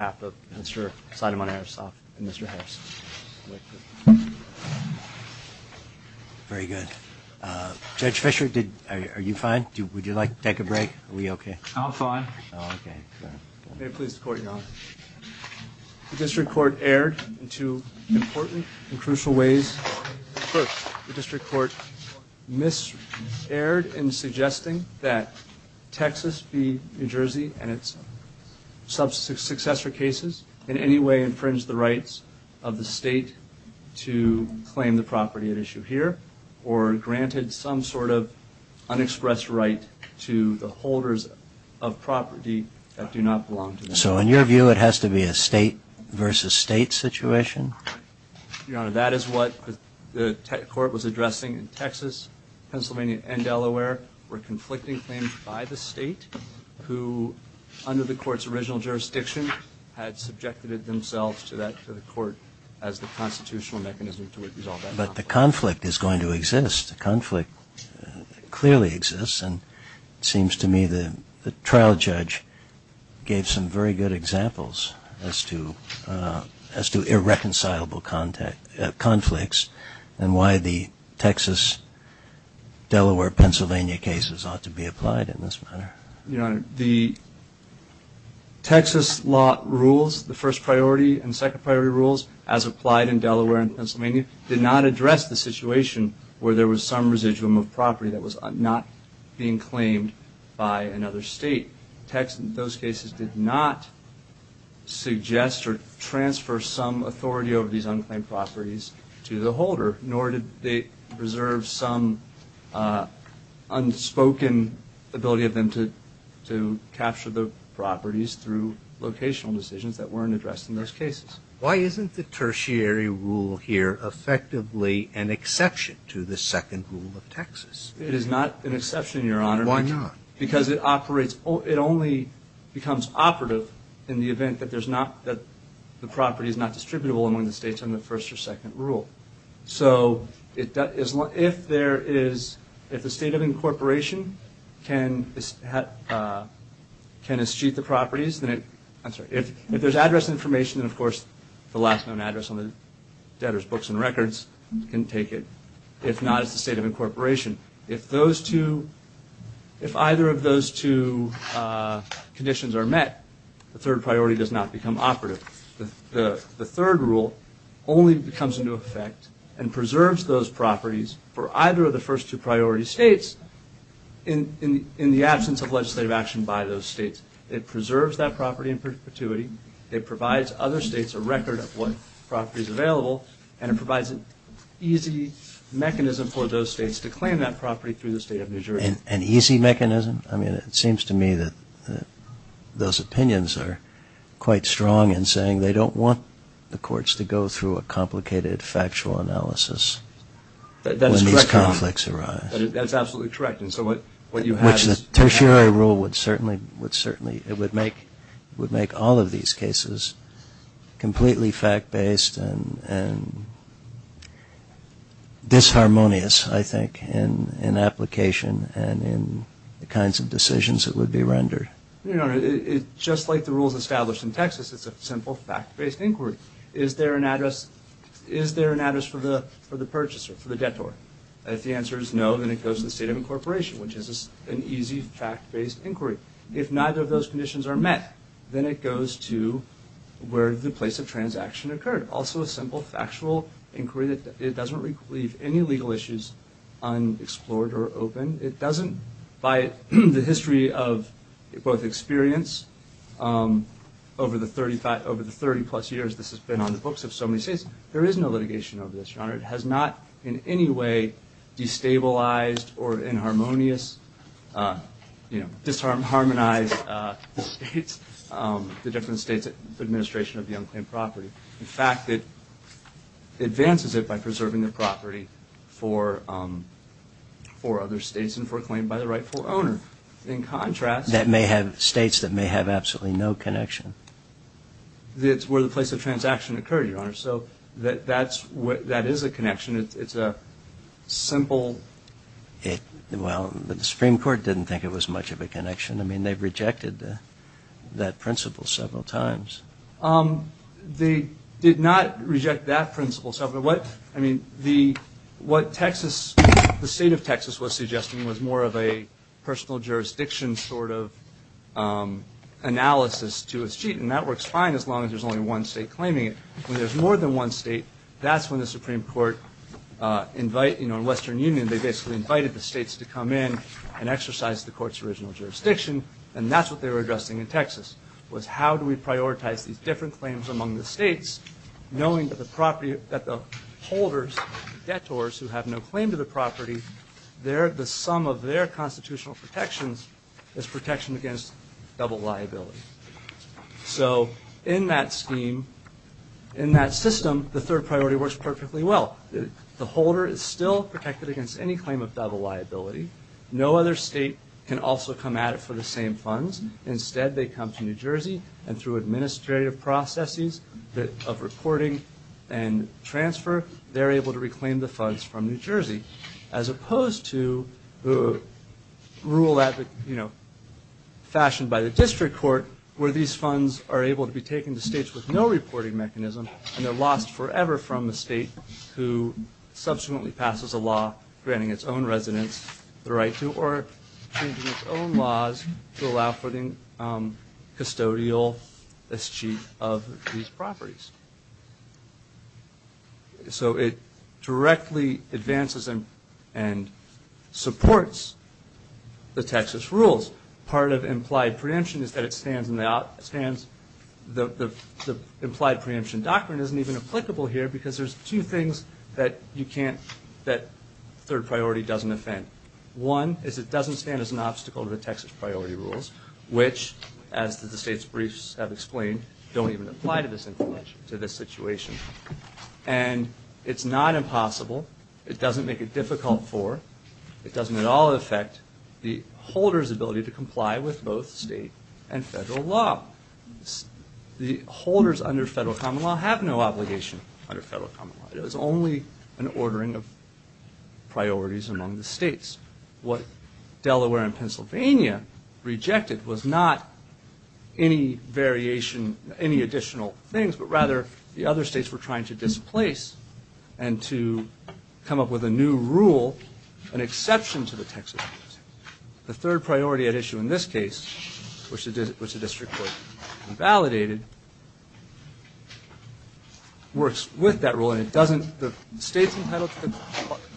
on behalf of Mr. Sidamon-Eristoff and Mr. Harris. Very good. Judge Fisher, are you fine? Would you like to take a break? Are we okay? I'm fine. May it please the Court, Your Honor. The District Court erred in two important and crucial ways. First, the District Court miserred in suggesting that Texas be New Jersey and its successor cases in any way infringe the rights of the State to claim the property at issue here or granted some sort of unexpressed right to the holders of property that do not belong to them. So in your view, it has to be a State versus State situation? Your Honor, that is what the Court was addressing in Texas, Pennsylvania, and Delaware, were conflicting claims by the State who, under the Court's original jurisdiction, had subjected themselves to the Court as the constitutional mechanism to resolve that conflict. But the conflict is going to exist. The conflict clearly exists. And it seems to me the trial judge gave some very good examples as to irreconcilable conflicts and why the Texas-Delaware-Pennsylvania cases ought to be applied in this manner. Your Honor, the Texas law rules, the first priority and second priority rules, as applied in Delaware and Pennsylvania, did not address the situation where there was some residuum of property that was not being claimed by another State. Those cases did not suggest or transfer some authority over these unclaimed properties to the holder, nor did they preserve some unspoken ability of them to capture the properties through locational decisions that weren't addressed in those cases. Why isn't the tertiary rule here effectively an exception to the second rule of Texas? It is not an exception, Your Honor. Why not? Because it only becomes operative in the event that the property is not distributable among the States under the first or second rule. So if the State of Incorporation can eschew the properties, if there's address information, then of course the last known address on the debtor's books and records can take it. If not, it's the State of Incorporation. If either of those two conditions are met, the third priority does not become operative. The third rule only comes into effect and preserves those properties for either of the first two priority States in the absence of legislative action by those States. It preserves that property in perpetuity. It provides other States a record of what property is available, and it provides an easy mechanism for those States to claim that property through the State of New Jersey. An easy mechanism? I mean, it seems to me that those opinions are quite strong in saying they don't want the courts to go through a complicated factual analysis when these conflicts arise. That is correct, Your Honor. That is absolutely correct. Which the tertiary rule would certainly make all of these cases completely fact-based and disharmonious, I think, in application and in the kinds of decisions that would be rendered. Your Honor, just like the rules established in Texas, it's a simple fact-based inquiry. Is there an address for the purchaser, for the debtor? If the answer is no, then it goes to the State of Incorporation, which is an easy fact-based inquiry. If neither of those conditions are met, then it goes to where the place of transaction occurred. Also a simple factual inquiry. It doesn't leave any legal issues unexplored or open. It doesn't, by the history of both experience over the 30-plus years this has been on the books of so many States, there is no litigation over this, Your Honor. It has not in any way destabilized or inharmonious, you know, disharmonized the States, the different States' administration of the unclaimed property. In fact, it advances it by preserving the property for other States and for a claim by the rightful owner. In contrast- That may have States that may have absolutely no connection. So that is a connection. It's a simple- Well, the Supreme Court didn't think it was much of a connection. I mean, they've rejected that principle several times. They did not reject that principle. I mean, what Texas, the State of Texas was suggesting was more of a personal jurisdiction sort of analysis to a sheet, and that works fine as long as there's only one State claiming it. When there's more than one State, that's when the Supreme Court invite, you know, Western Union, they basically invited the States to come in and exercise the Court's original jurisdiction, and that's what they were addressing in Texas, was how do we prioritize these different claims among the States knowing that the property, that the holders, detours who have no claim to the property, the sum of their constitutional protections is protection against double liability. So in that scheme, in that system, the third priority works perfectly well. The holder is still protected against any claim of double liability. No other State can also come at it for the same funds. Instead, they come to New Jersey, and through administrative processes of reporting and transfer, they're able to reclaim the funds from New Jersey. As opposed to the rule that, you know, fashioned by the District Court, where these funds are able to be taken to States with no reporting mechanism, and they're lost forever from the State who subsequently passes a law granting its own residents the right to, or changing its own laws to allow for the custodial as chief of these properties. So it directly advances and supports the Texas rules. Part of implied preemption is that it stands in the, the implied preemption doctrine isn't even applicable here, because there's two things that you can't, that third priority doesn't offend. One is it doesn't stand as an obstacle to the Texas priority rules, which, as the State's briefs have explained, don't even apply to this situation. And it's not impossible, it doesn't make it difficult for, it doesn't at all affect the holder's ability to comply with both State and Federal law. The holders under Federal common law have no obligation under Federal common law. It is only an ordering of priorities among the States. What Delaware and Pennsylvania rejected was not any variation, any additional things, but rather the other States were trying to displace and to come up with a new rule, an exception to the Texas rules. The third priority at issue in this case, which the District would have validated, works with that rule and it doesn't, the States entitled to the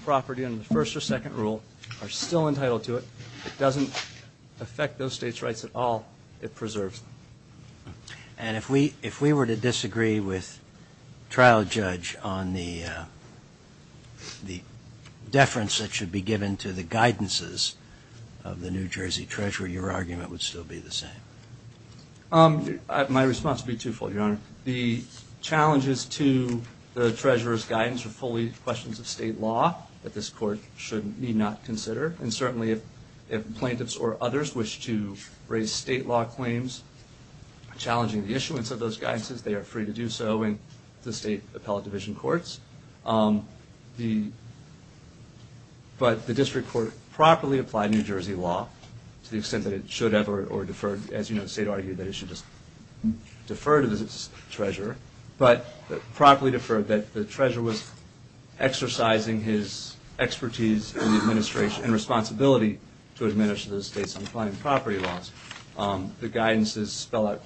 property under the first or second rule are still entitled to it. It doesn't affect those States' rights at all. It preserves them. And if we, if we were to disagree with trial judge on the, the deference that should be given to the guidances of the New Jersey Treasurer, your argument would still be the same? My response would be twofold, Your Honor. One, the challenges to the Treasurer's guidance are fully questions of State law that this Court should need not consider, and certainly if plaintiffs or others wish to raise State law claims challenging the issuance of those guidances, they are free to do so in the State appellate division courts. The, but the District Court properly applied New Jersey law to the extent that it should have or deferred, as you know, the State argued that it should just defer to the Treasurer, but properly deferred that the Treasurer was exercising his expertise in the administration and responsibility to administer those States' own property laws. The guidances spell out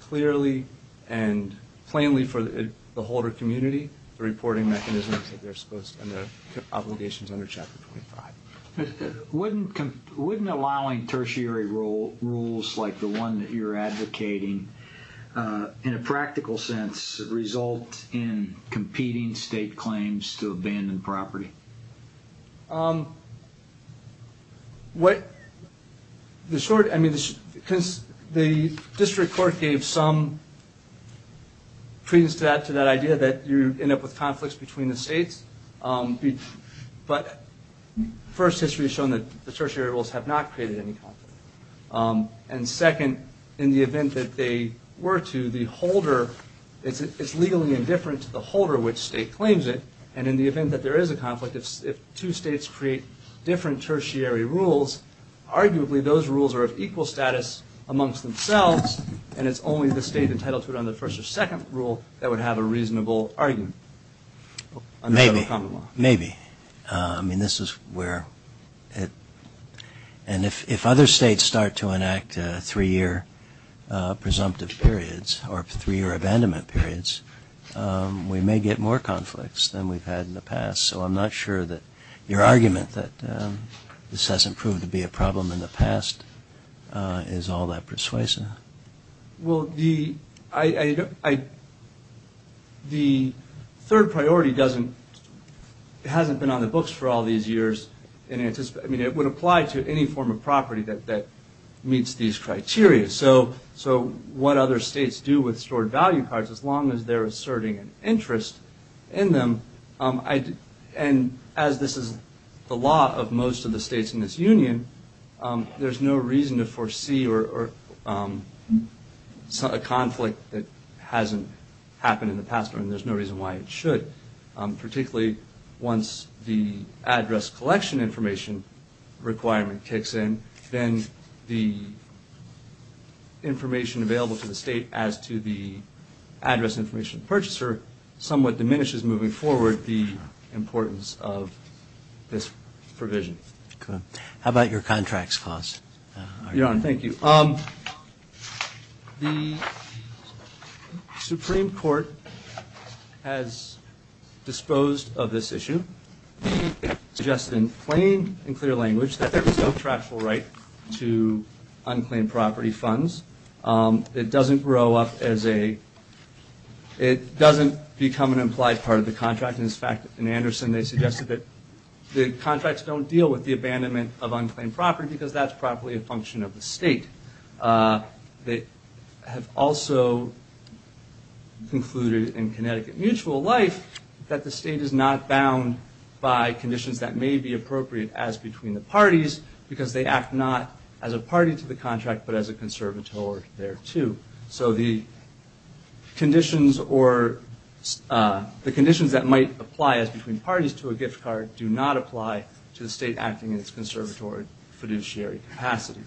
clearly and plainly for the holder community, the reporting mechanisms that they're supposed, and their obligations under Chapter 25. Wouldn't allowing tertiary rules like the one that you're advocating, in a practical sense, result in competing State claims to abandoned property? What, the short, I mean, because the District Court gave some pretense to that idea that you end up with conflicts between the States, but first history has shown that the tertiary rules have not created any conflict. And second, in the event that they were to, the holder, it's legally indifferent to the holder which State claims it, and in the event that there is a conflict, if two States create different tertiary rules, arguably those rules are of equal status amongst themselves, and it's only the State entitled to it under the first or second rule that would have a reasonable argument under Federal Common Law. Maybe, maybe. I mean, this is where it, and if other States start to enact three-year presumptive periods, or three-year abandonment periods, we may get more conflicts than we've had in the past. So I'm not sure that your argument that this hasn't proved to be a problem in the past is all that persuasive. Well, the, I, the third priority doesn't, hasn't been on the books for all these years, and it would apply to any form of property that meets these criteria. So what other States do with stored value cards, as long as they're asserting an interest in them, and as this is the law of most of the States in this Union, there's no reason to foresee a conflict that hasn't happened in the past, and there's no reason why it should. Particularly once the address collection information requirement kicks in, then the information available to the State as to the address information purchaser somewhat diminishes moving forward the importance of this provision. Okay. How about your contracts cost argument? Your Honor, thank you. The Supreme Court has disposed of this issue, suggested in plain and clear language that there is no tractable right to unclaimed property funds. It doesn't grow up as a, it doesn't become an implied part of the contract. In fact, in Anderson, they suggested that the contracts don't deal with the abandonment of unclaimed property because that's properly a function of the State. They have also concluded in Connecticut Mutual Life that the State is not bound by conditions that may be appropriate as between the parties because they act not as a party to the contract but as a conservator there too. So the conditions that might apply as between parties to a gift card do not apply to the State acting in its conservatory fiduciary capacity.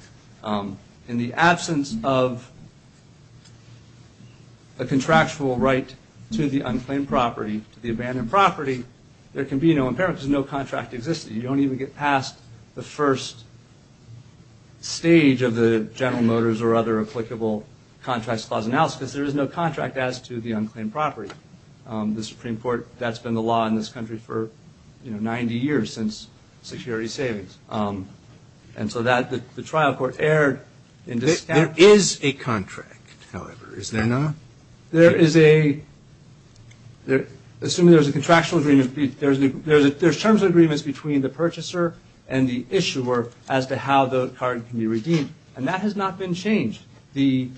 In the absence of a contractual right to the unclaimed property, to the abandoned property, there can be no impairment because no contract exists. You don't even get past the first stage of the General Motors or other applicable contracts clause analysis. There is no contract as to the unclaimed property. The Supreme Court, that's been the law in this country for 90 years since security savings. And so the trial court erred. There is a contract, however, is there not? There is a, assuming there's a contractual agreement, there's terms of agreements between the purchaser and the issuer as to how the card can be redeemed. And that has not been changed.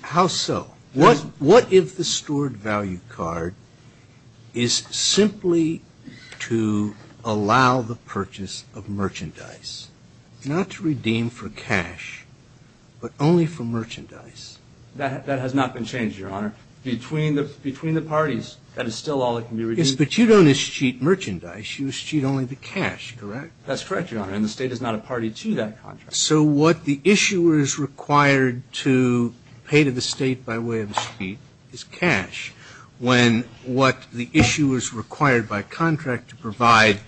How so? What if the stored value card is simply to allow the purchase of merchandise, not to redeem for cash, but only for merchandise? That has not been changed, Your Honor. Between the parties, that is still all that can be redeemed. Yes, but you don't escheat merchandise. You escheat only the cash, correct? That's correct, Your Honor. And the State is not a party to that contract. So what the issuer is required to pay to the State by way of escheat is cash, when what the issuer is required by contract to provide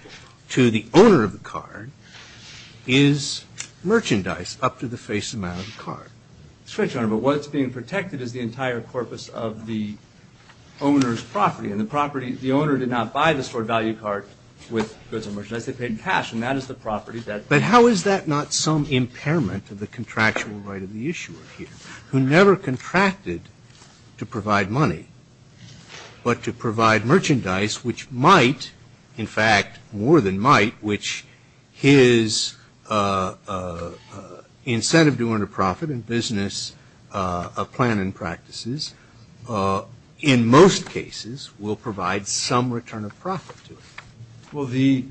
to the owner of the card is merchandise up to the face amount of the card. That's right, Your Honor. But what's being protected is the entire corpus of the owner's property. And the property, the owner did not buy the stored value card with goods and merchandise. They paid in cash, and that is the property. But how is that not some impairment of the contractual right of the issuer here, who never contracted to provide money, but to provide merchandise, which might, in fact, more than might, which his incentive to earn a profit in business of plan and practices, in most cases, will provide some return of profit to him? Well,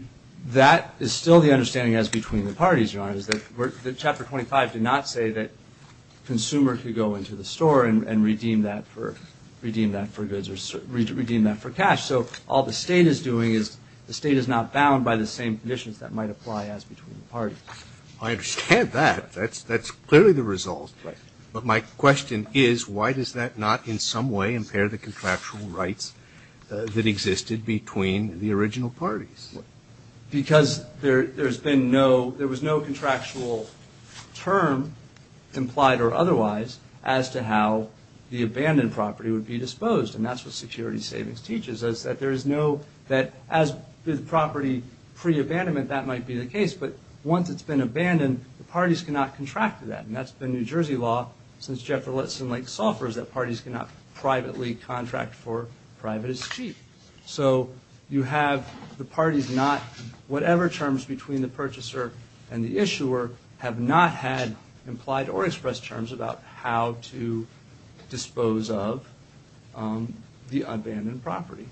that is still the understanding as between the parties, Your Honor, is that Chapter 25 did not say that consumer could go into the store and redeem that for goods or redeem that for cash. So all the State is doing is the State is not bound by the same conditions that might apply as between the parties. I understand that. That's clearly the result. Right. But my question is, why does that not, in some way, impair the contractual rights that existed between the original parties? Because there's been no, there was no contractual term implied or otherwise as to how the abandoned property would be disposed. And that's what security savings teaches us, that there is no, that as the property pre-abandonment, that might be the case. But once it's been abandoned, the parties cannot contract to that. And that's been New Jersey law since Jefferson Lake suffers that parties cannot privately contract for private as cheap. So you have the parties not, whatever terms between the purchaser and the issuer have not had implied or expressed terms about how to dispose of the abandoned property.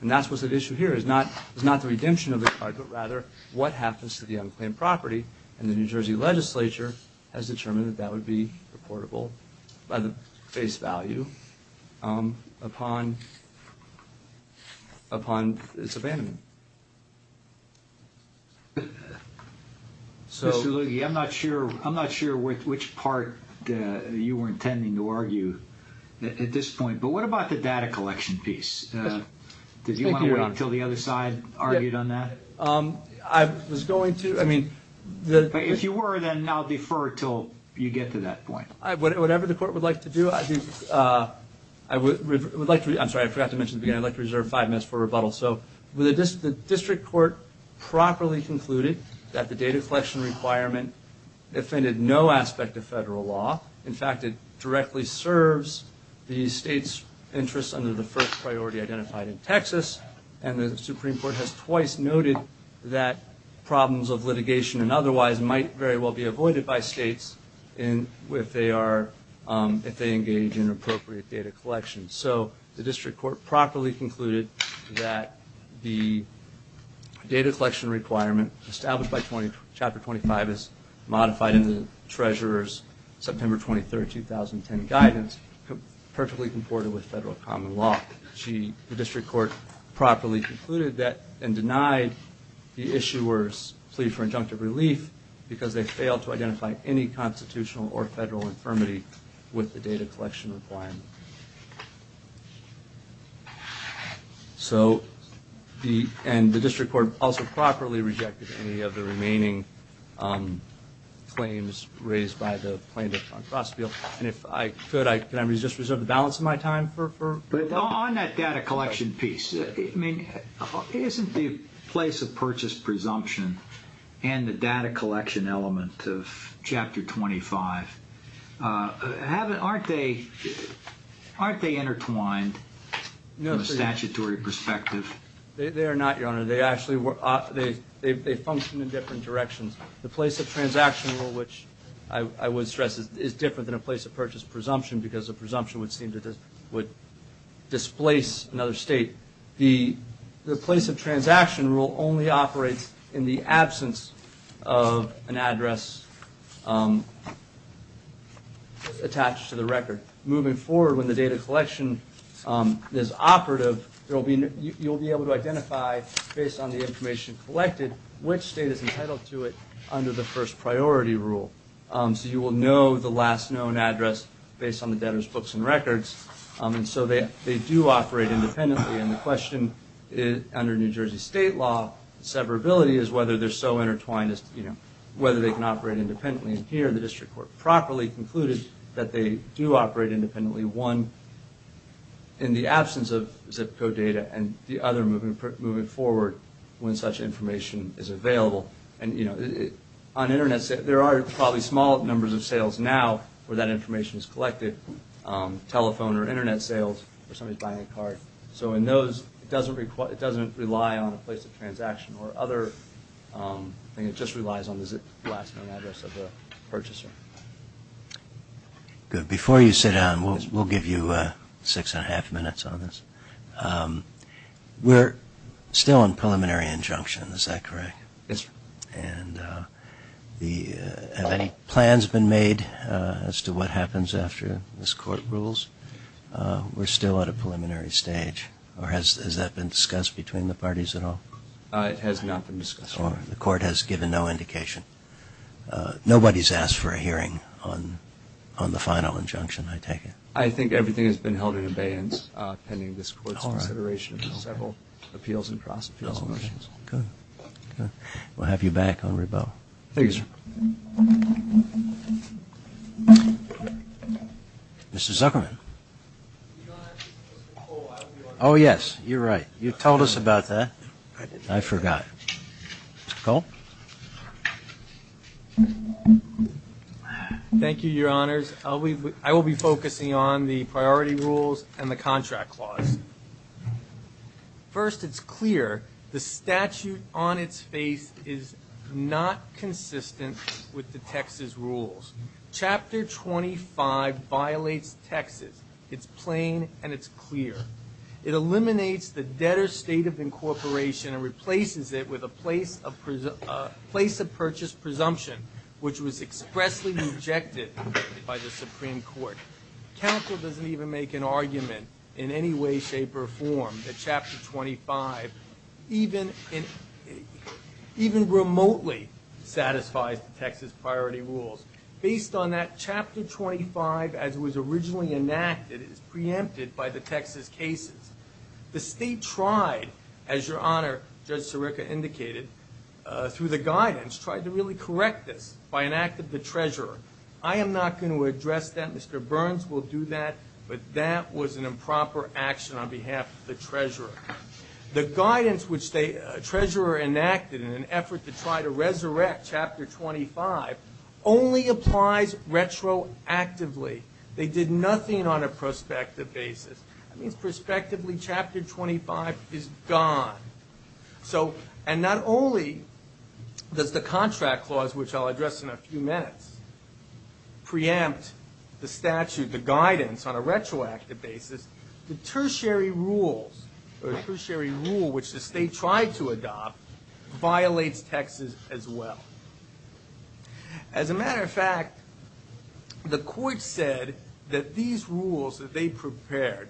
And that's what's at issue here, is not the redemption of the card, but rather what happens to the unclaimed property. And the New Jersey legislature has determined that that would be reportable by the face value upon its abandonment. Mr. Lughi, I'm not sure which part you were intending to argue at this point, but what about the data collection piece? Did you want to wait until the other side argued on that? I was going to, I mean. If you were, then I'll defer until you get to that point. Whatever the court would like to do, I would like to, I'm sorry, I forgot to mention at the beginning, I'd like to reserve five minutes for rebuttal. So the district court properly concluded that the data collection requirement offended no aspect of federal law. In fact, it directly serves the state's interests under the first priority identified in Texas, and the Supreme Court has twice noted that problems of litigation and otherwise might very well be avoided by states if they engage in appropriate data collection. So the district court properly concluded that the data collection requirement established by Chapter 25 is modified in the treasurer's September 23, 2010 guidance, perfectly comported with federal common law. The district court properly concluded that and denied the issuers' plea for injunctive relief because they failed to identify any constitutional or federal infirmity with the data collection requirement. So the district court also properly rejected any of the remaining claims raised by the plaintiff on Crossfield, and if I could, can I just reserve the balance of my time? But on that data collection piece, isn't the place of purchase presumption and the data collection element of Chapter 25, aren't they intertwined from a statutory perspective? They are not, Your Honor. They function in different directions. The place of transaction rule, which I would stress, is different than a place of purchase presumption because a presumption would seem to displace another state. The place of transaction rule only operates in the absence of an address attached to the record. Moving forward, when the data collection is operative, you'll be able to identify, based on the information collected, which state is entitled to it under the first priority rule. So you will know the last known address based on the debtor's books and records. And so they do operate independently, and the question under New Jersey state law severability is whether they're so intertwined, whether they can operate independently. And here the district court properly concluded that they do operate independently, one, in the absence of zip code data, and the other, moving forward, when such information is available. And, you know, on Internet, there are probably small numbers of sales now where that information is collected, telephone or Internet sales, or somebody's buying a card. So in those, it doesn't rely on a place of transaction or other thing. It just relies on the last known address of the purchaser. Good. Before you sit down, we'll give you six and a half minutes on this. We're still on preliminary injunction, is that correct? Yes, sir. And have any plans been made as to what happens after this court rules? We're still at a preliminary stage. Or has that been discussed between the parties at all? It has not been discussed. The court has given no indication. Nobody's asked for a hearing on the final injunction, I take it. I think everything has been held in abeyance, pending this court's consideration of several appeals and cross-appeals motions. Good. We'll have you back on rebuttal. Thank you, sir. Mr. Zuckerman. Oh, yes. You're right. You told us about that. I forgot. Mr. Cole. Thank you, Your Honors. I will be focusing on the priority rules and the contract clause. First, it's clear the statute on its face is not consistent with the Texas rules. Chapter 25 violates Texas. It's plain and it's clear. It eliminates the debtor's state of incorporation and replaces it with a place of purchase presumption, which was expressly rejected by the Supreme Court. Counsel doesn't even make an argument in any way, shape, or form that Chapter 25 even remotely satisfies the Texas priority rules. Based on that, Chapter 25, as it was originally enacted, is preempted by the Texas cases. The state tried, as Your Honor, Judge Sirica indicated, through the guidance tried to really correct this by enacting the treasurer. I am not going to address that. Mr. Burns will do that, but that was an improper action on behalf of the treasurer. The guidance which the treasurer enacted in an effort to try to resurrect Chapter 25 only applies retroactively. They did nothing on a prospective basis. That means prospectively Chapter 25 is gone. And not only does the contract clause, which I'll address in a few minutes, preempt the statute, the guidance, on a retroactive basis, the tertiary rules, or the tertiary rule which the state tried to adopt, violates Texas as well. As a matter of fact, the court said that these rules that they prepared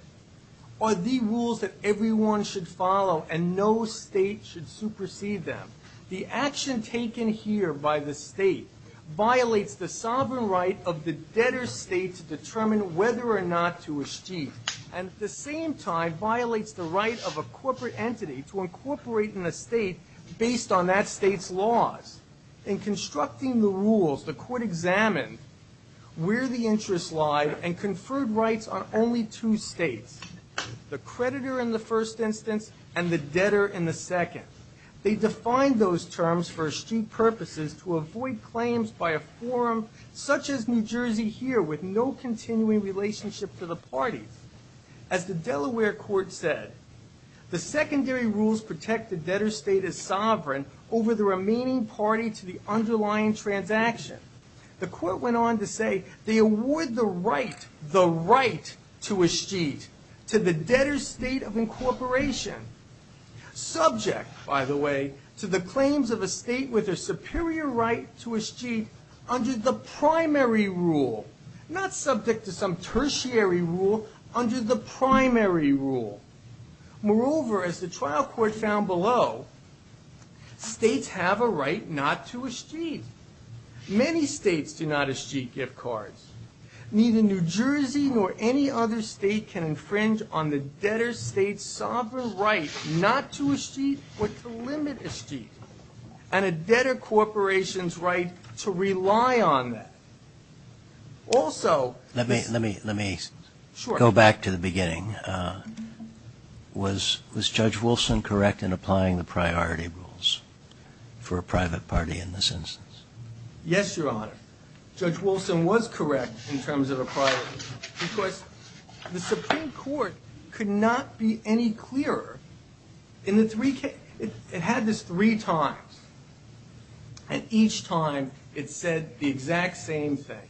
are the rules that everyone should follow and no state should supersede them. The action taken here by the state violates the sovereign right of the debtor state to determine whether or not to achieve, and at the same time, violates the right of a corporate entity to incorporate in a state based on that state's laws. In constructing the rules, the court examined where the interests lie and conferred rights on only two states, the creditor in the first instance and the debtor in the second. They defined those terms for astute purposes to avoid claims by a forum such as New Jersey here with no continuing relationship to the parties. As the Delaware court said, the secondary rules protect the debtor state as sovereign over the remaining party to the underlying transaction. The court went on to say they award the right, the right to astute, to the debtor state of incorporation, subject, by the way, to the claims of a state with a superior right to astute under the primary rule, not subject to some tertiary rule under the primary rule. Moreover, as the trial court found below, states have a right not to astute. Many states do not astute gift cards. Neither New Jersey nor any other state can infringe on the debtor state's sovereign right not to astute but to limit astute, and a debtor corporation's right to rely on that. Also. Let me, let me, let me go back to the beginning. Was, was Judge Wilson correct in applying the priority rules for a private party in this instance? Yes, Your Honor. Judge Wilson was correct in terms of a priority, because the Supreme Court could not be any clearer. In the three cases, it had this three times, and each time it said the exact same thing.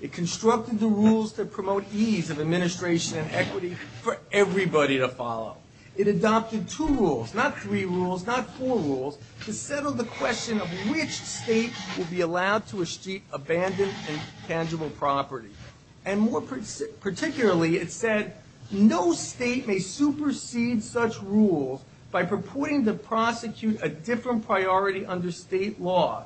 It constructed the rules to promote ease of administration and equity for everybody to follow. It adopted two rules, not three rules, not four rules, to settle the question of which state would be allowed to astute abandoned and tangible property. And more particularly, it said no state may supersede such rules by purporting to prosecute a different priority under state law.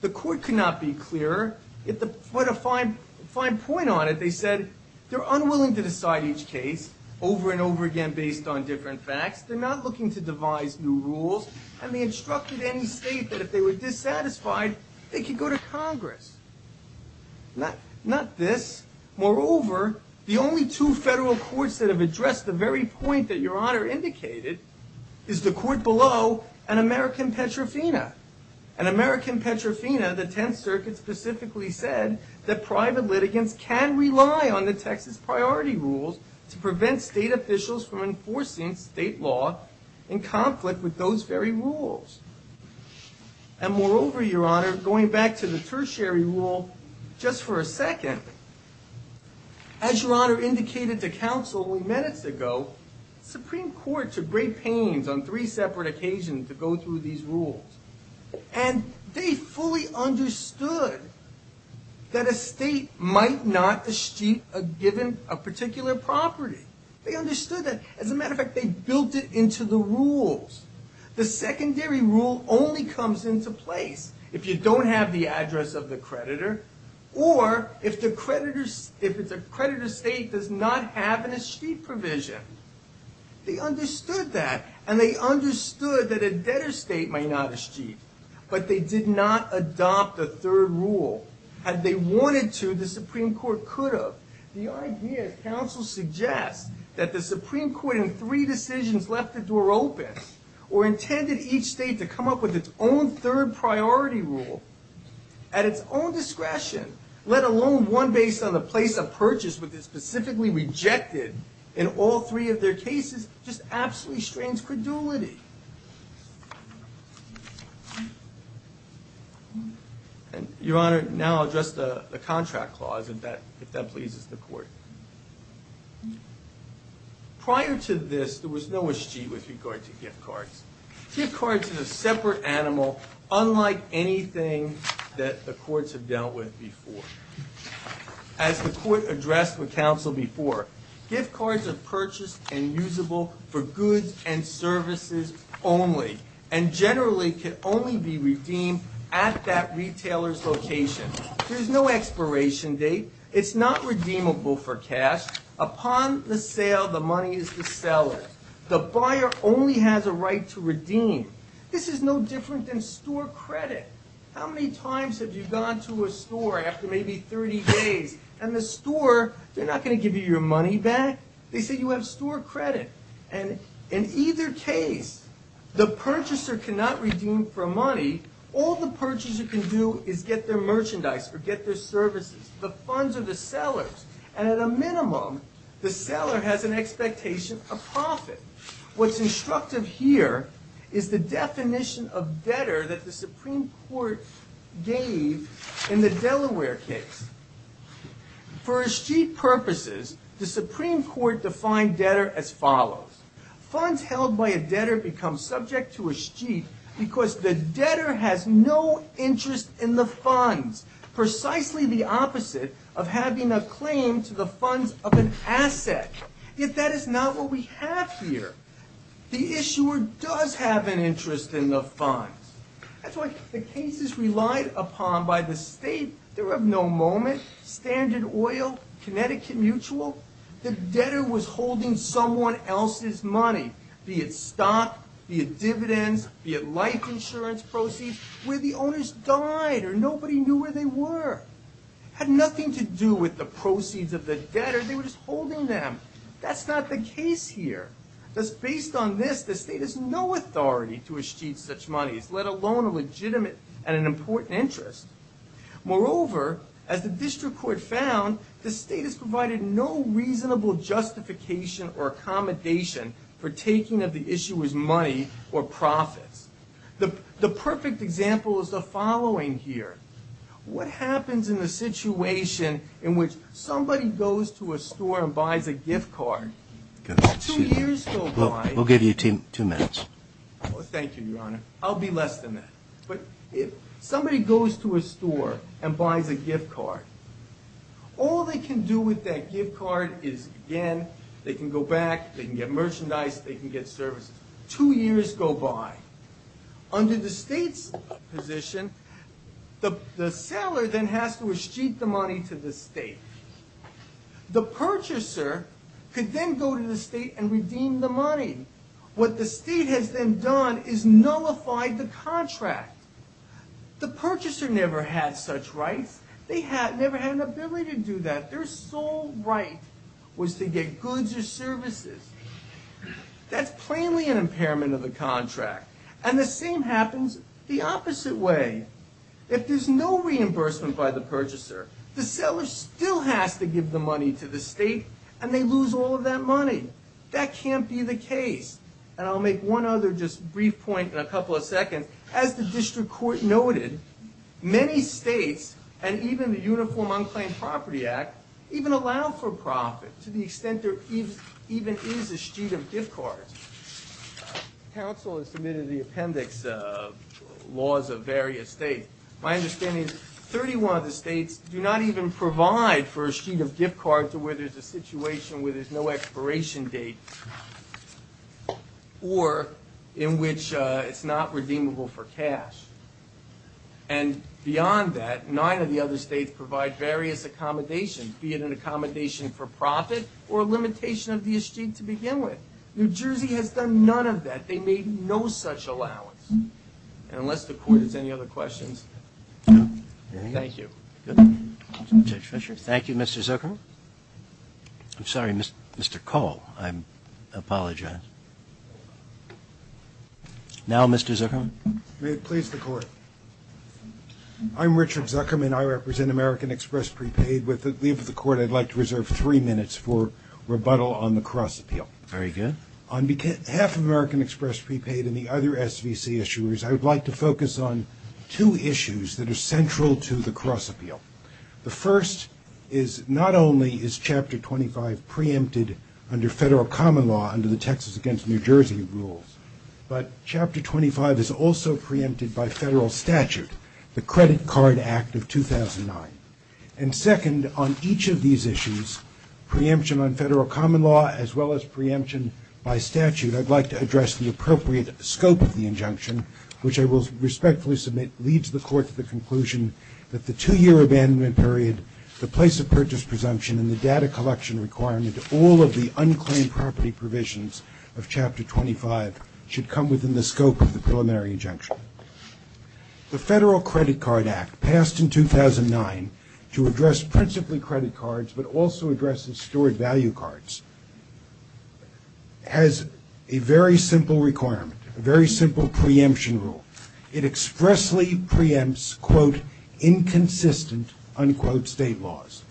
The court could not be clearer. It put a fine, fine point on it. They said they're unwilling to decide each case over and over again based on different facts. They're not looking to devise new rules. And they instructed any state that if they were dissatisfied, they could go to Congress. Not, not this. Moreover, the only two federal courts that have addressed the very point that Your Honor indicated is the court below and American Petrofina. And American Petrofina, the Tenth Circuit specifically said that private litigants can rely on the Texas Priority Rules to prevent state officials from enforcing state law in conflict with those very rules. And moreover, Your Honor, going back to the tertiary rule, just for a second, as Your Honor indicated to counsel only minutes ago, the Supreme Court took great pains on three separate occasions to go through these rules. And they fully understood that a state might not eschew a given, a particular property. They understood that. As a matter of fact, they built it into the rules. The secondary rule only comes into place if you don't have the address of the creditor or if the creditor's state does not have an eschew provision. They understood that. And they understood that a debtor's state might not eschew. But they did not adopt a third rule. Had they wanted to, the Supreme Court could have. The idea, as counsel suggests, that the Supreme Court in three decisions left the door open or intended each state to come up with its own third priority rule at its own discretion, let alone one based on the place of purchase which is specifically rejected in all three of their cases just absolutely strains credulity. And, Your Honor, now I'll address the contract clause, if that pleases the Court. Prior to this, there was no eschew with regard to gift cards. Gift cards is a separate animal unlike anything that the courts have dealt with before. As the Court addressed with counsel before, gift cards are purchased and usable for goods and services only and generally can only be redeemed at that retailer's location. There's no expiration date. It's not redeemable for cash. Upon the sale, the money is the seller. The buyer only has a right to redeem. This is no different than store credit. How many times have you gone to a store after maybe 30 days and the store, they're not going to give you your money back. They say you have store credit. And in either case, the purchaser cannot redeem for money. All the purchaser can do is get their merchandise or get their services, the funds of the sellers. And at a minimum, the seller has an expectation of profit. What's instructive here is the definition of debtor that the Supreme Court gave in the Delaware case. For escheat purposes, the Supreme Court defined debtor as follows. Funds held by a debtor become subject to escheat because the debtor has no interest in the funds, precisely the opposite of having a claim to the funds of an asset. Yet that is not what we have here. The issuer does have an interest in the funds. That's why the cases relied upon by the state, they were of no moment, Standard Oil, Connecticut Mutual, the debtor was holding someone else's money, be it stock, be it dividends, be it life insurance proceeds, where the owners died or nobody knew where they were. It had nothing to do with the proceeds of the debtor. They were just holding them. That's not the case here. Thus, based on this, the state has no authority to escheat such monies, let alone a legitimate and an important interest. Moreover, as the district court found, the state has provided no reasonable justification or accommodation for taking of the issuer's money or profits. The perfect example is the following here. What happens in the situation in which somebody goes to a store and buys a gift card? If two years go by... We'll give you two minutes. Thank you, Your Honor. I'll be less than that. But if somebody goes to a store and buys a gift card, all they can do with that gift card is, again, they can go back, they can get merchandise, they can get services. Two years go by. Under the state's position, the seller then has to escheat the money to the state. The purchaser could then go to the state and redeem the money. What the state has then done is nullified the contract. The purchaser never had such rights. They never had an ability to do that. Their sole right was to get goods or services. That's plainly an impairment of the contract. And the same happens the opposite way. If there's no reimbursement by the purchaser, the seller still has to give the money to the state, and they lose all of that money. That can't be the case. And I'll make one other just brief point in a couple of seconds. As the district court noted, many states, and even the Uniform Unclaimed Property Act, even allow for profit to the extent there even is a sheet of gift cards. Council has submitted the appendix laws of various states. My understanding is 31 of the states do not even provide for a sheet of gift card to where there's a situation where there's no expiration date or in which it's not redeemable for cash. And beyond that, 39 of the other states provide various accommodations, be it an accommodation for profit or a limitation of the escheme to begin with. New Jersey has done none of that. They made no such allowance. And unless the Court has any other questions, no. Thank you. Thank you, Mr. Zuckerman. I'm sorry, Mr. Cole. I apologize. Now, Mr. Zuckerman. May it please the Court. I'm Richard Zuckerman. I represent American Express Prepaid. With the leave of the Court, I'd like to reserve three minutes for rebuttal on the Cross Appeal. Very good. On half of American Express Prepaid and the other SVC issuers, I would like to focus on two issues that are central to the Cross Appeal. The first is not only is Chapter 25 preempted under federal common law under the Texas against New Jersey rules, but Chapter 25 is also preempted by federal statute, the Credit Card Act of 2009. And second, on each of these issues, preemption on federal common law as well as preemption by statute, I'd like to address the appropriate scope of the injunction, which I will respectfully submit leads the Court to the conclusion that the two-year abandonment period, the place of purchase presumption, and the data collection requirement, all of the unclaimed property provisions of Chapter 25 should come within the scope of the preliminary injunction. The Federal Credit Card Act, passed in 2009 to address principally credit cards but also addresses stored value cards, has a very simple requirement, a very simple preemption rule. It expressly preempts, quote, inconsistent, unquote, state laws.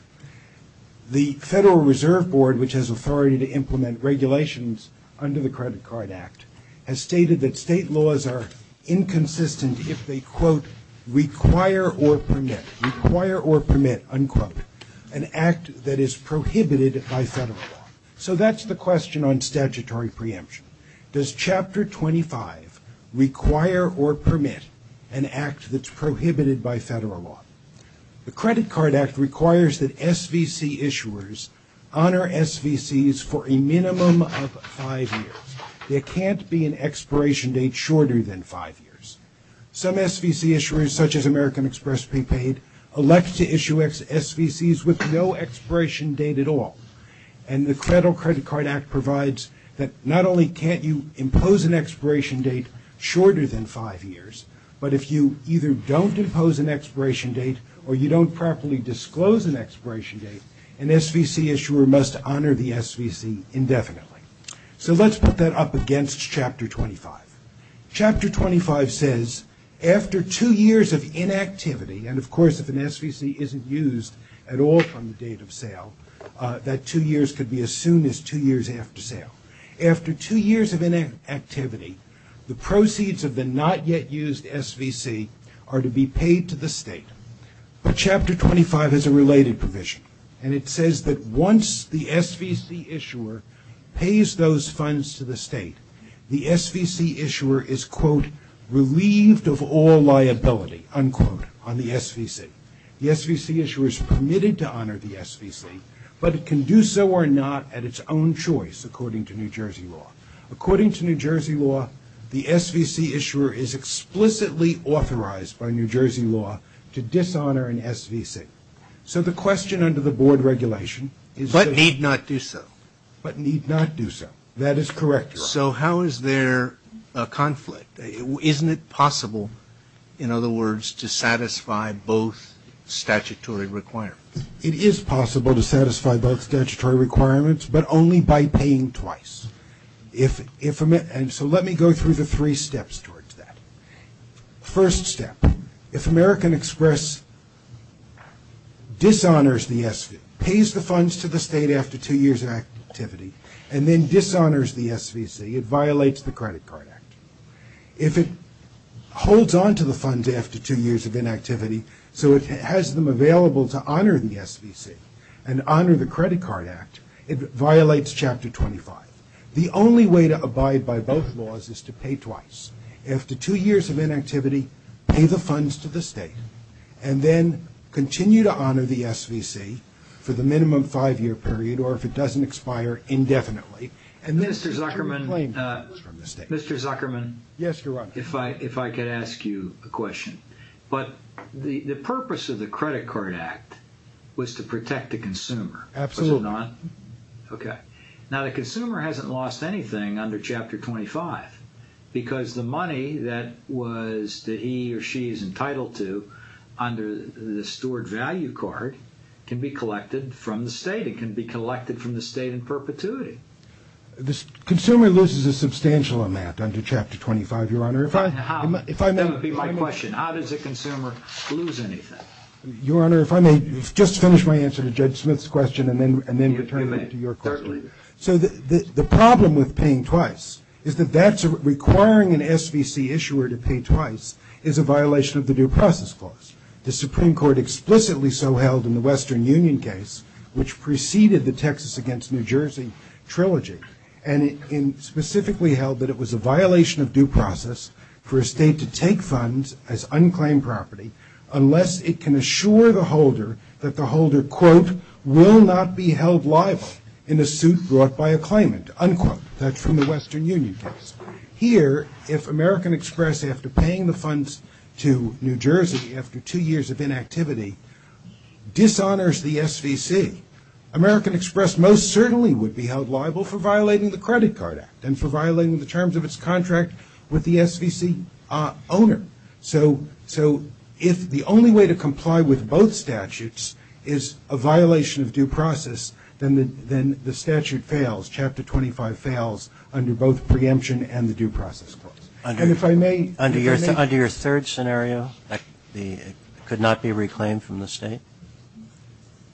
The Federal Reserve Board, which has authority to implement regulations under the Credit Card Act, has stated that state laws are inconsistent if they, quote, require or permit, require or permit, unquote, an act that is prohibited by federal law. So that's the question on statutory preemption. Does Chapter 25 require or permit an act that's prohibited by federal law? The Credit Card Act requires that SVC issuers honor SVCs for a minimum of five years. There can't be an expiration date shorter than five years. Some SVC issuers, such as American Express Paypaid, elect to issue SVCs with no expiration date at all. And the Federal Credit Card Act provides that not only can't you impose an expiration date shorter than five years, but if you either don't impose an expiration date or you don't properly disclose an expiration date, an SVC issuer must honor the SVC indefinitely. So let's put that up against Chapter 25. Chapter 25 says, after two years of inactivity, and, of course, if an SVC isn't used at all from the date of sale, that two years could be as soon as two years after sale. After two years of inactivity, the proceeds of the not-yet-used SVC are to be paid to the state. But Chapter 25 has a related provision, and it says that once the SVC issuer pays those funds to the state, the SVC issuer is, quote, relieved of all liability, unquote, on the SVC. The SVC issuer is permitted to honor the SVC, but it can do so or not at its own choice, according to New Jersey law. According to New Jersey law, the SVC issuer is explicitly authorized by New Jersey law to dishonor an SVC. So the question under the board regulation is... But need not do so. But need not do so. That is correct, Your Honor. So how is there a conflict? Isn't it possible, in other words, to satisfy both statutory requirements? It is possible to satisfy both statutory requirements, but only by paying twice. And so let me go through the three steps towards that. First step. If American Express dishonors the SVC, pays the funds to the state after two years of inactivity, and then dishonors the SVC, it violates the Credit Card Act. If it holds onto the funds after two years of inactivity so it has them available to honor the SVC and honor the Credit Card Act, it violates Chapter 25. The only way to abide by both laws is to pay twice. After two years of inactivity, pay the funds to the state, and then continue to honor the SVC for the minimum five-year period, or if it doesn't expire, indefinitely. Mr. Zuckerman... Mr. Zuckerman... Yes, Your Honor. If I could ask you a question. But the purpose of the Credit Card Act was to protect the consumer. Absolutely. Okay. Now the consumer hasn't lost anything under Chapter 25 because the money that he or she is entitled to under the Steward Value Card can be collected from the state. It can be collected from the state in perpetuity. The consumer loses a substantial amount under Chapter 25, Your Honor. That would be my question. How does a consumer lose anything? Your Honor, if I may just finish my answer to Judge Smith's question and then return it to your question. Certainly. So the problem with paying twice is that requiring an SVC issuer to pay twice is a violation of the Due Process Clause. The Supreme Court explicitly so held in the Western Union case, which preceded the Texas against New Jersey trilogy, and specifically held that it was a violation of due process for a state to take funds as unclaimed property unless it can assure the holder that the holder, quote, will not be held liable in a suit brought by a claimant, unquote. That's from the Western Union case. Here, if American Express, after paying the funds to New Jersey after two years of inactivity, dishonors the SVC, American Express most certainly would be held liable for violating the Credit Card Act and for violating the terms of its contract with the SVC owner. So if the only way to comply with both statutes is a violation of due process, then the statute fails. Chapter 25 fails under both preemption and the Due Process Clause. And if I may... Under your third scenario, it could not be reclaimed from the state?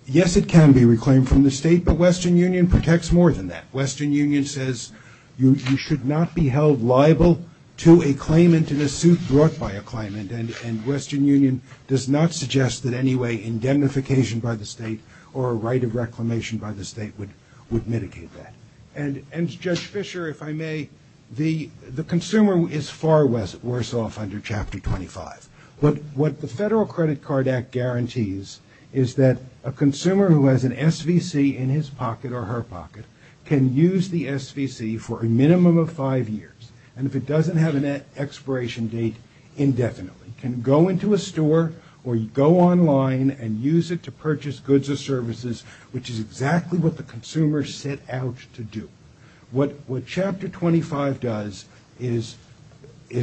Yes, it can be reclaimed from the state, but Western Union protects more than that. Western Union says you should not be held liable to a claimant in a suit brought by a claimant, and Western Union does not suggest that any way indemnification by the state or a right of reclamation by the state would mitigate that. And, Judge Fischer, if I may, the consumer is far worse off under Chapter 25. What the Federal Credit Card Act guarantees is that a consumer who has an SVC in his pocket or her pocket can use the SVC for a minimum of five years, and if it doesn't have an expiration date, indefinitely. It can go into a store or go online and use it to purchase goods or services, which is exactly what the consumer set out to do. What Chapter 25 does is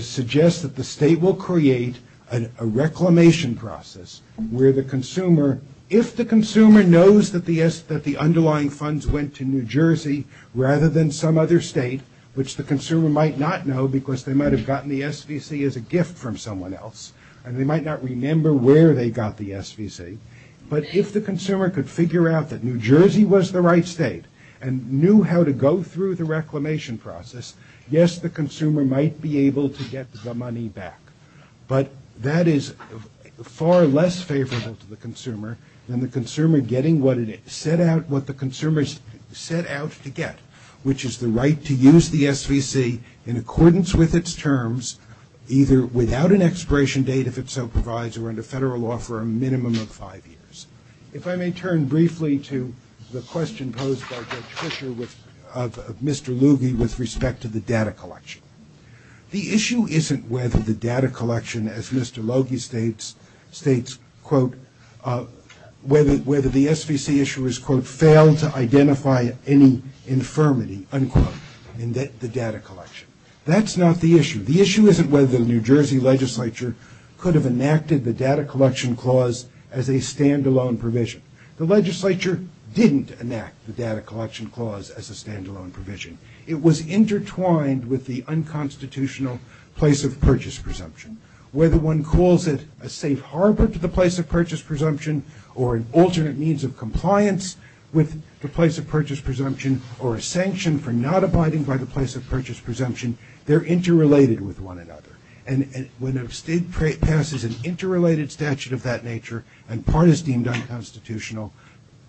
suggest that the state will create a reclamation process where the consumer, if the consumer knows that the underlying funds went to New Jersey rather than some other state, which the consumer might not know because they might have gotten the SVC as a gift from someone else and they might not remember where they got the SVC, but if the consumer could figure out that New Jersey was the right state and knew how to go through the reclamation process, yes, the consumer might be able to get the money back. But that is far less favorable to the consumer than the consumer getting what the consumer set out to get, which is the right to use the SVC in accordance with its terms, either without an expiration date, if it so provides, or under federal law for a minimum of five years. If I may turn briefly to the question posed by Judge Fischer of Mr. Logie with respect to the data collection. The issue isn't whether the data collection, as Mr. Logie states, whether the SVC issuers, quote, failed to identify any infirmity, unquote, in the data collection. That's not the issue. The issue isn't whether the New Jersey legislature could have enacted the data collection clause as a stand-alone provision. The legislature didn't enact the data collection clause as a stand-alone provision. It was intertwined with the unconstitutional place of purchase presumption. Whether one calls it a safe harbor to the place of purchase presumption or an alternate means of compliance with the place of purchase presumption or a sanction for not abiding by the place of purchase presumption, they're interrelated with one another. And when a state passes an interrelated statute of that nature and part is deemed unconstitutional,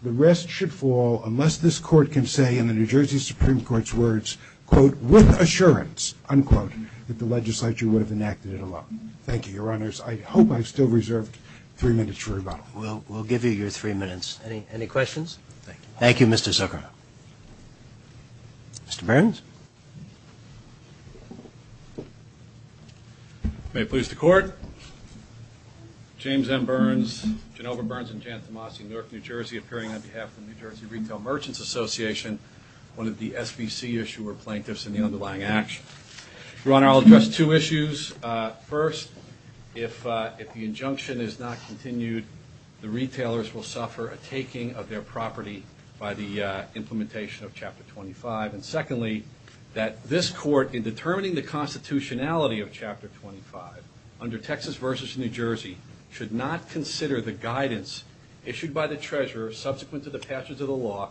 the rest should fall unless this court can say, in the New Jersey Supreme Court's words, quote, with assurance, unquote, that the legislature would have enacted it alone. Thank you, Your Honors. I hope I've still reserved three minutes for rebuttal. We'll give you your three minutes. Any questions? Thank you. Thank you, Mr. Zucker. Mr. Burns? May it please the Court. James M. Burns, Genova Burns and Jan Tomasi, Newark, New Jersey, appearing on behalf of the New Jersey Retail Merchants Association, one of the SBC issuer plaintiffs in the underlying action. Your Honor, I'll address two issues. First, if the injunction is not continued, the retailers will suffer a taking of their property by the implementation of Chapter 25. And secondly, that this court, in determining the constitutionality of Chapter 25, under Texas v. New Jersey, should not consider the guidance issued by the treasurer subsequent to the passage of the law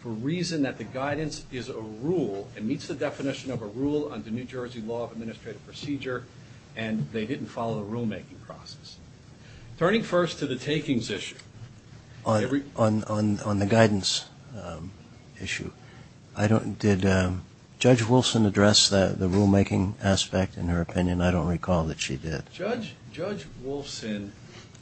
for reason that the guidance is a rule and meets the definition of a rule under New Jersey Law of Administrative Procedure and they didn't follow the rulemaking process. Turning first to the takings issue. On the guidance issue, did Judge Wolfson address the rulemaking aspect in her opinion? I don't recall that she did. Judge Wolfson.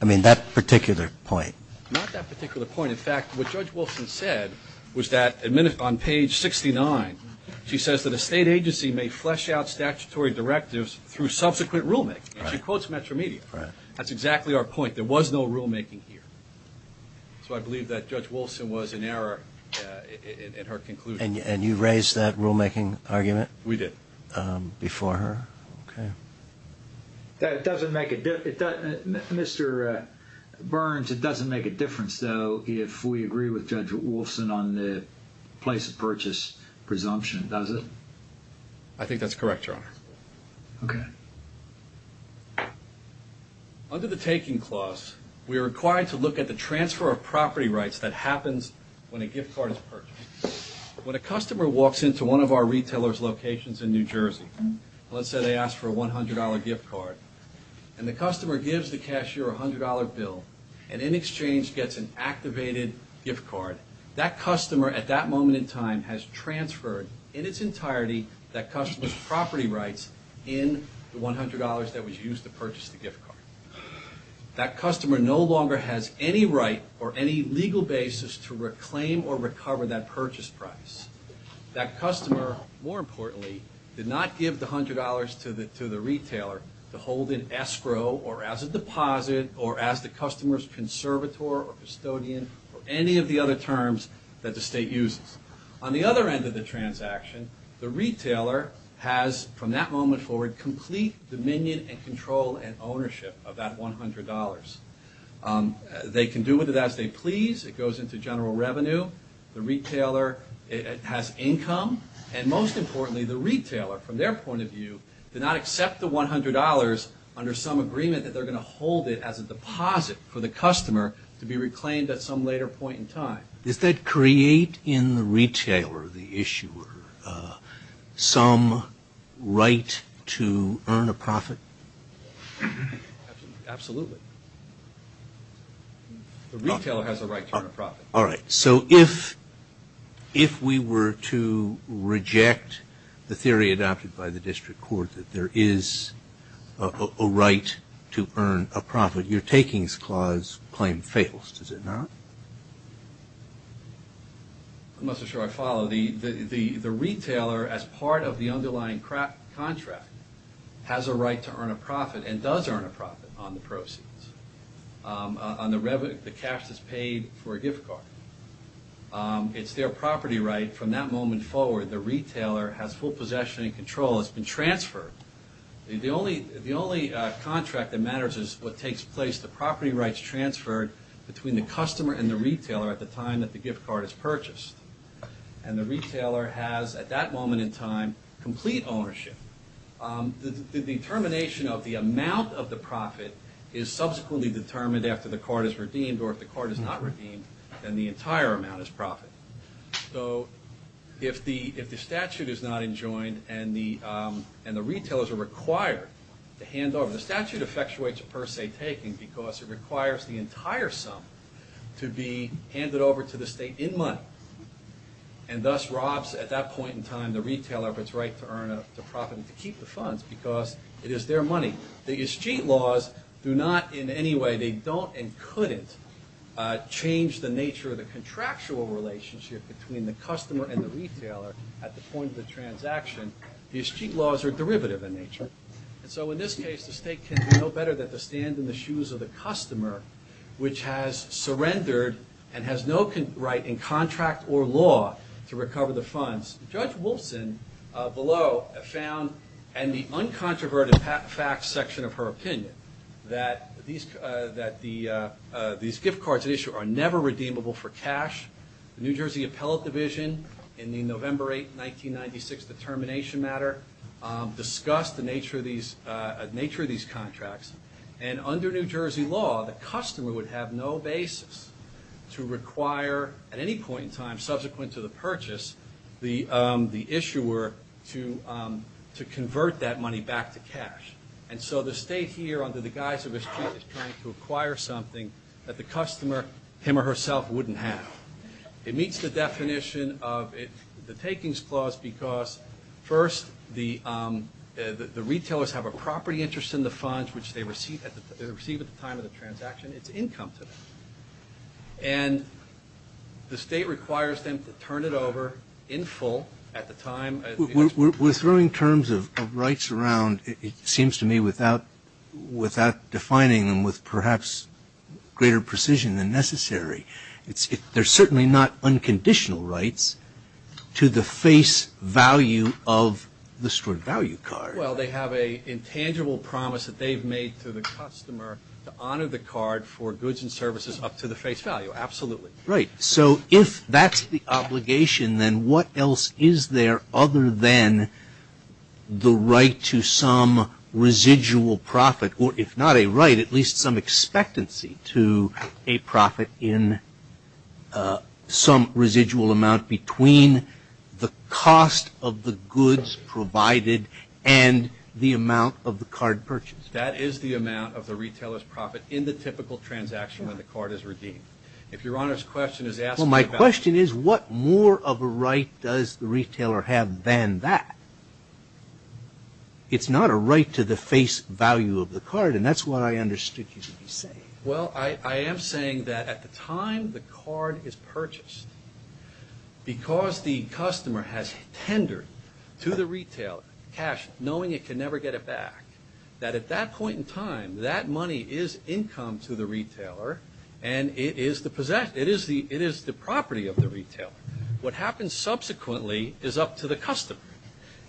I mean, that particular point. Not that particular point. In fact, what Judge Wolfson said was that on page 69, she says that a state agency may flesh out statutory directives through subsequent rulemaking. She quotes Metro Media. That's exactly our point. There was no rulemaking here. So I believe that Judge Wolfson was in error in her conclusion. And you raised that rulemaking argument? We did. Before her? Okay. Mr. Burns, it doesn't make a difference, though, if we agree with Judge Wolfson on the place of purchase presumption, does it? I think that's correct, Your Honor. Okay. Under the taking clause, we are required to look at the transfer of property rights that happens when a gift card is purchased. When a customer walks into one of our retailers' locations in New Jersey, let's say they ask for a $100 gift card, and the customer gives the cashier a $100 bill and in exchange gets an activated gift card, that customer at that moment in time has transferred in its entirety that customer's property rights in the $100 that was used to purchase the gift card. That customer no longer has any right or any legal basis to reclaim or recover that purchase price. That customer, more importantly, did not give the $100 to the retailer to hold in escrow or as a deposit or as the customer's conservator or custodian or any of the other terms that the state uses. On the other end of the transaction, the retailer has, from that moment forward, complete dominion and control and ownership of that $100. They can do with it as they please. It goes into general revenue. The retailer has income. And most importantly, the retailer, from their point of view, did not accept the $100 under some agreement that they're going to hold it as a deposit for the customer to be reclaimed at some later point in time. Is that create in the retailer, the issuer, some right to earn a profit? The retailer has a right to earn a profit. All right. So if we were to reject the theory adopted by the district court that there is a right to earn a profit, your takings clause claim fails, does it not? I'm not so sure I follow. The retailer, as part of the underlying contract, has a right to earn a profit and does earn a profit on the proceeds, on the cash that's paid for a gift card. It's their property right. From that moment forward, the retailer has full possession and control. It's been transferred. The only contract that matters is what takes place, the property rights transferred between the customer and the retailer at the time that the gift card is purchased. And the retailer has, at that moment in time, complete ownership. The determination of the amount of the profit is subsequently determined after the card is redeemed, or if the card is not redeemed, then the entire amount is profit. So if the statute is not enjoined and the retailers are required to hand over, the statute effectuates a per se taking because it requires the entire sum to be handed over to the state in money. And thus robs, at that point in time, the retailer of its right to earn a profit and to keep the funds because it is their money. The estate laws do not in any way, they don't and couldn't, change the nature of the contractual relationship between the customer and the retailer at the point of the transaction. The estate laws are derivative in nature. And so in this case, the state can do no better than to stand in the shoes of the customer, which has surrendered and has no right in contract or law to recover the funds. Judge Wolfson, below, found in the uncontroverted facts section of her opinion, that these gift cards at issue are never redeemable for cash. The New Jersey Appellate Division, in the November 8, 1996 determination matter, discussed the nature of these contracts. And under New Jersey law, the customer would have no basis to require at any point in time, subsequent to the purchase, the issuer to convert that money back to cash. And so the state here, under the guise of a street, is trying to acquire something that the customer, him or herself, wouldn't have. It meets the definition of the takings clause because, first, the retailers have a property interest in the funds which they receive at the time of the transaction. It's income to them. And the state requires them to turn it over in full at the time. We're throwing terms of rights around, it seems to me, without defining them with perhaps greater precision than necessary. They're certainly not unconditional rights to the face value of the stored value card. Well, they have an intangible promise that they've made to the customer to honor the card for goods and services up to the face value. Absolutely. Right. So if that's the obligation, then what else is there other than the right to some residual profit, or if not a right, at least some expectancy to a profit in some residual amount between the cost of the goods provided and the amount of the card purchased? That is the amount of the retailer's profit in the typical transaction when the card is redeemed. If Your Honor's question is asking about Well, my question is what more of a right does the retailer have than that? It's not a right to the face value of the card, and that's what I understood you to be saying. Well, I am saying that at the time the card is purchased, because the customer has tendered to the retailer cash knowing it can never get it back, that at that point in time, that money is income to the retailer, and it is the property of the retailer. What happens subsequently is up to the customer.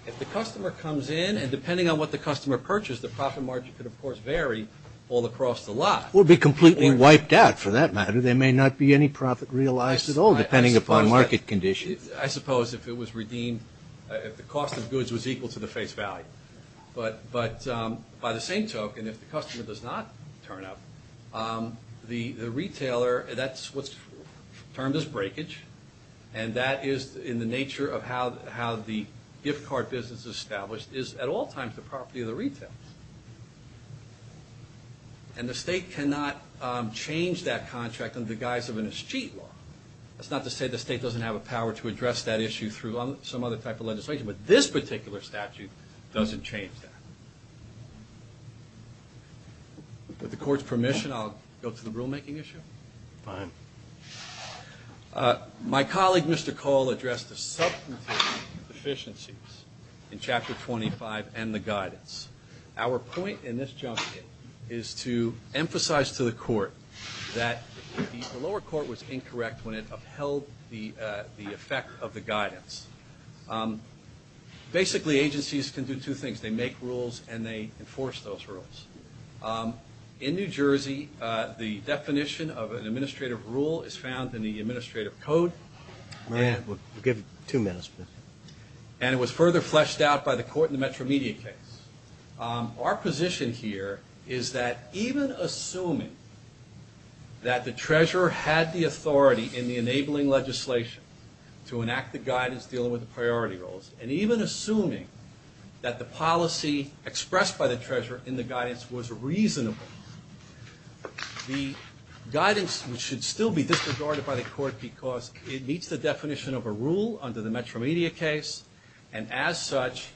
If the customer comes in, and depending on what the customer purchased, the profit margin could, of course, vary all across the lot. Or be completely wiped out, for that matter. There may not be any profit realized at all, depending upon market conditions. I suppose if it was redeemed, if the cost of goods was equal to the face value. But by the same token, if the customer does not turn up, the retailer, that's what's termed as breakage, and that is in the nature of how the gift card business is established, is at all times the property of the retailer. And the state cannot change that contract in the guise of an escheat law. That's not to say the state doesn't have a power to address that issue through some other type of legislation, but this particular statute doesn't change that. With the court's permission, I'll go to the rulemaking issue. Fine. My colleague, Mr. Cole, addressed the substantive deficiencies in Chapter 25 and the guidance. Our point in this jump is to emphasize to the court that the lower court was incorrect when it upheld the effect of the guidance. Basically, agencies can do two things. They make rules and they enforce those rules. In New Jersey, the definition of an administrative rule is found in the Administrative Code. We'll give two minutes. And it was further fleshed out by the court in the Metro Media case. Our position here is that even assuming that the treasurer had the authority in the enabling legislation to enact the guidance dealing with the priority rules, and even assuming that the policy expressed by the treasurer in the guidance was reasonable, the guidance should still be disregarded by the court because it meets the definition of a rule under the Metro Media case, and as such,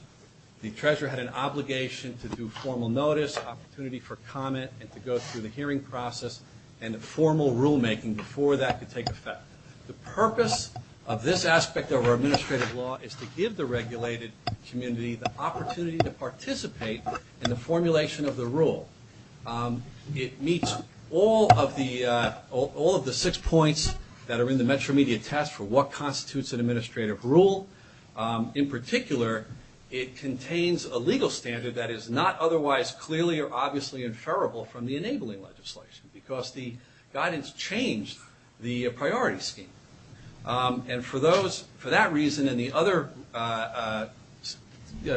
the treasurer had an obligation to do formal notice, opportunity for comment, and to go through the hearing process and formal rulemaking before that could take effect. The purpose of this aspect of our administrative law is to give the regulated community the opportunity to participate in the formulation of the rule. It meets all of the six points that are in the Metro Media test for what constitutes an administrative rule. In particular, it contains a legal standard that is not otherwise clearly or obviously inferrable from the enabling legislation because the guidance changed the priority scheme. And for that reason and the other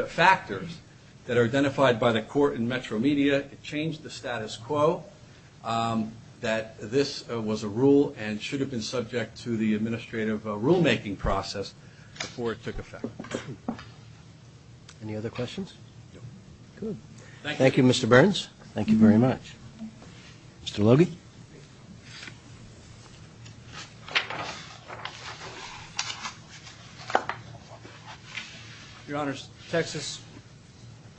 factors that are identified by the court in Metro Media, it changed the status quo that this was a rule and should have been subject to the administrative rulemaking process before it took effect. Any other questions? No. Good. Thank you, Mr. Burns. Thank you very much. Mr. Logie. Your Honors, Texas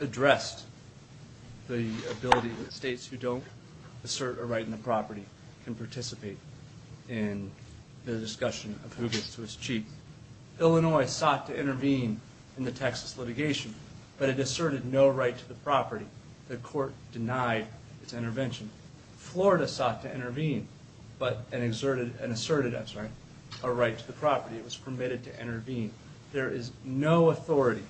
addressed the ability that states who don't assert a right on the property can participate in the discussion of who gets to its chief. Illinois sought to intervene in the Texas litigation, but it asserted no right to the property. The court denied its intervention. Florida sought to intervene and asserted a right to the property. It was permitted to intervene. There is no authority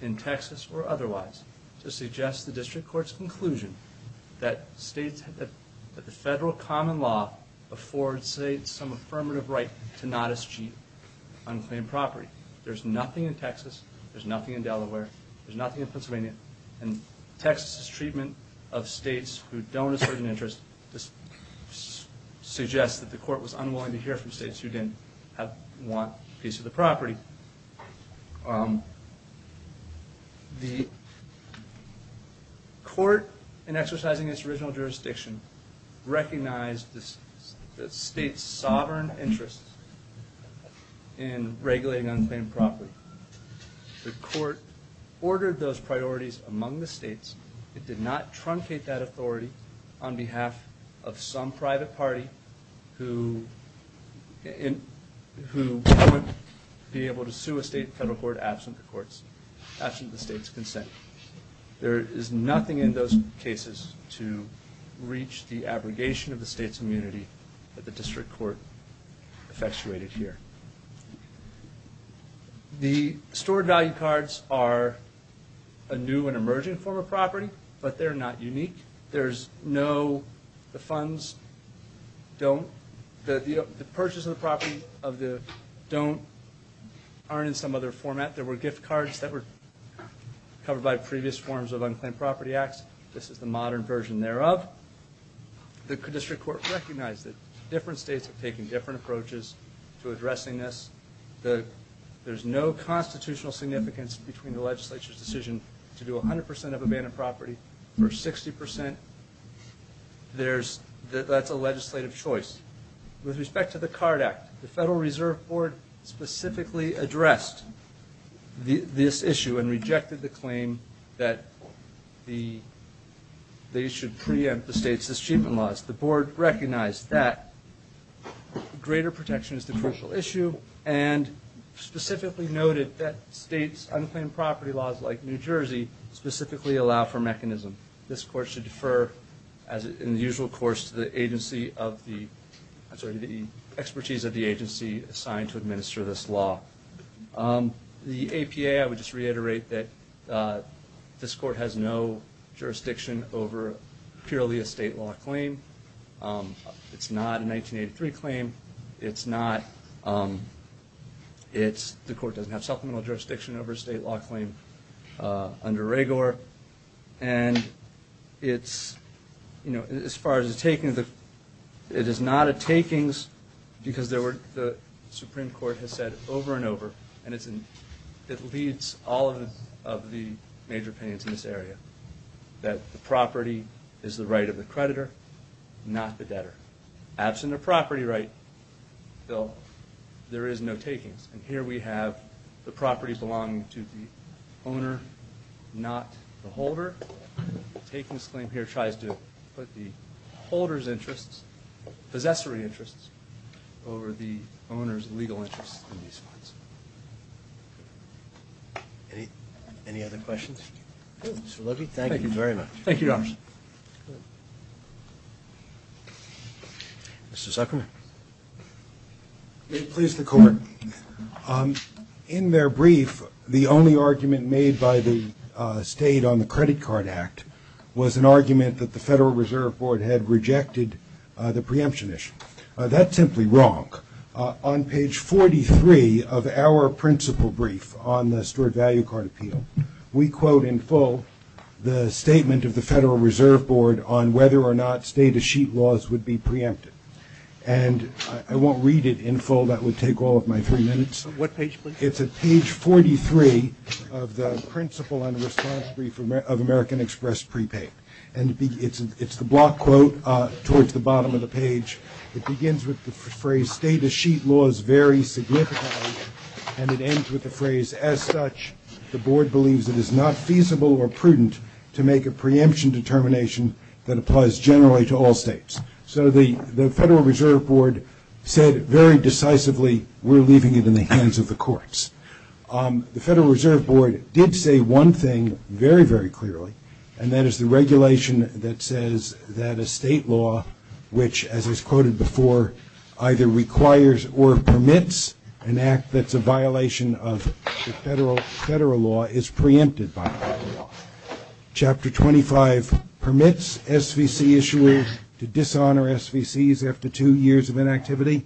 in Texas or otherwise to suggest the district court's conclusion that the federal common law affords, say, some affirmative right to not eschew unclaimed property. There's nothing in Texas, there's nothing in Delaware, there's nothing in Pennsylvania, and Texas's treatment of states who don't assert an interest suggests that the court was unwilling to hear from states who didn't want a piece of the property. The court, in exercising its original jurisdiction, recognized the state's sovereign interest in regulating unclaimed property. The court ordered those priorities among the states. It did not truncate that authority on behalf of some private party who wouldn't be able to sue a state federal court absent the state's consent. There is nothing in those cases to reach the abrogation of the state's immunity that the district court effectuated here. The stored value cards are a new and emerging form of property, but they're not unique. The purchase of the property of the don't aren't in some other format. There were gift cards that were covered by previous forms of unclaimed property acts. This is the modern version thereof. The district court recognized that different states have taken different approaches to addressing this. There's no constitutional significance between the legislature's decision to do 100% of abandoned property or 60%. That's a legislative choice. With respect to the CARD Act, the Federal Reserve Board specifically addressed this issue and rejected the claim that they should preempt the state's achievement laws. The board recognized that greater protection is the crucial issue and specifically noted that states' unclaimed property laws like New Jersey specifically allow for mechanism. This court should defer, as in the usual course, to the expertise of the agency assigned to administer this law. The APA, I would just reiterate that this court has no jurisdiction over purely a state law claim. It's not a 1983 claim. The court doesn't have supplemental jurisdiction over a state law claim under RAGOR. As far as the takings, it is not a takings because the Supreme Court has said over and over, and it leads all of the major opinions in this area, that the property is the right of the creditor, not the debtor. Absent a property right, Bill, there is no takings. And here we have the property belonging to the owner, not the holder. The takings claim here tries to put the holder's interests, possessory interests, over the owner's legal interests in these funds. Any other questions? Mr. Levy, thank you very much. Thank you, Your Honors. Mr. Zuckerman. May it please the Court. In their brief, the only argument made by the State on the Credit Card Act was an argument that the Federal Reserve Board had rejected the preemption issue. That's simply wrong. On page 43 of our principal brief on the Steward Value Card Appeal, we quote in full the statement of the Federal Reserve Board on whether or not stay-to-sheet laws would be preempted. And I won't read it in full. That would take all of my three minutes. What page, please? It's at page 43 of the principal and response brief of American Express prepaid. And it's the block quote towards the bottom of the page. It begins with the phrase, stay-to-sheet laws vary significantly, and it ends with the phrase, as such, the Board believes it is not feasible or prudent to make a preemption determination that applies generally to all states. So the Federal Reserve Board said very decisively, we're leaving it in the hands of the courts. The Federal Reserve Board did say one thing very, very clearly, and that is the regulation that says that a state law which, as is quoted before, either requires or permits an act that's a violation of the federal law is preempted by the federal law. Chapter 25 permits SVC issuers to dishonor SVCs after two years of inactivity.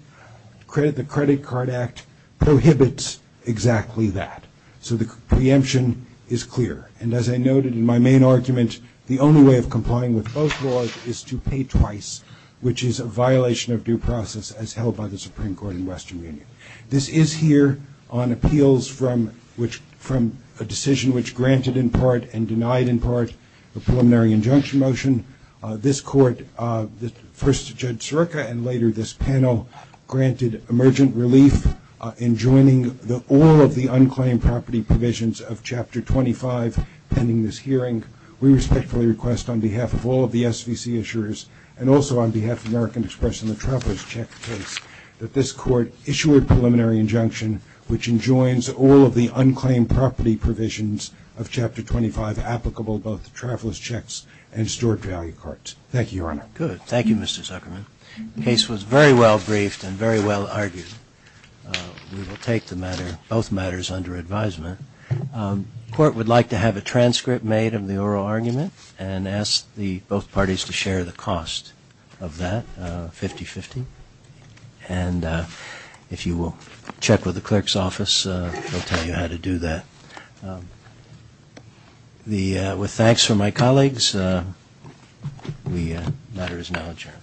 The Credit Card Act prohibits exactly that. So the preemption is clear. And as I noted in my main argument, the only way of complying with both laws is to pay twice, which is a violation of due process as held by the Supreme Court in Western Union. This is here on appeals from a decision which granted in part and denied in part the preliminary injunction motion. This Court, first Judge Sirica and later this panel, granted emergent relief in joining all of the unclaimed property provisions of Chapter 25 pending this hearing. We respectfully request on behalf of all of the SVC issuers and also on behalf of American Express and the Travelers Check case that this Court issue a preliminary injunction which enjoins all of the unclaimed property provisions of Chapter 25 applicable to both the Travelers Checks and Stewart Value Carts. Thank you, Your Honor. Good. Thank you, Mr. Zuckerman. The case was very well briefed and very well argued. We will take the matter, both matters, under advisement. The Court would like to have a transcript made of the oral argument and ask both parties to share the cost of that, 50-50. And if you will check with the clerk's office, they'll tell you how to do that. With thanks from my colleagues, the matter is now adjourned.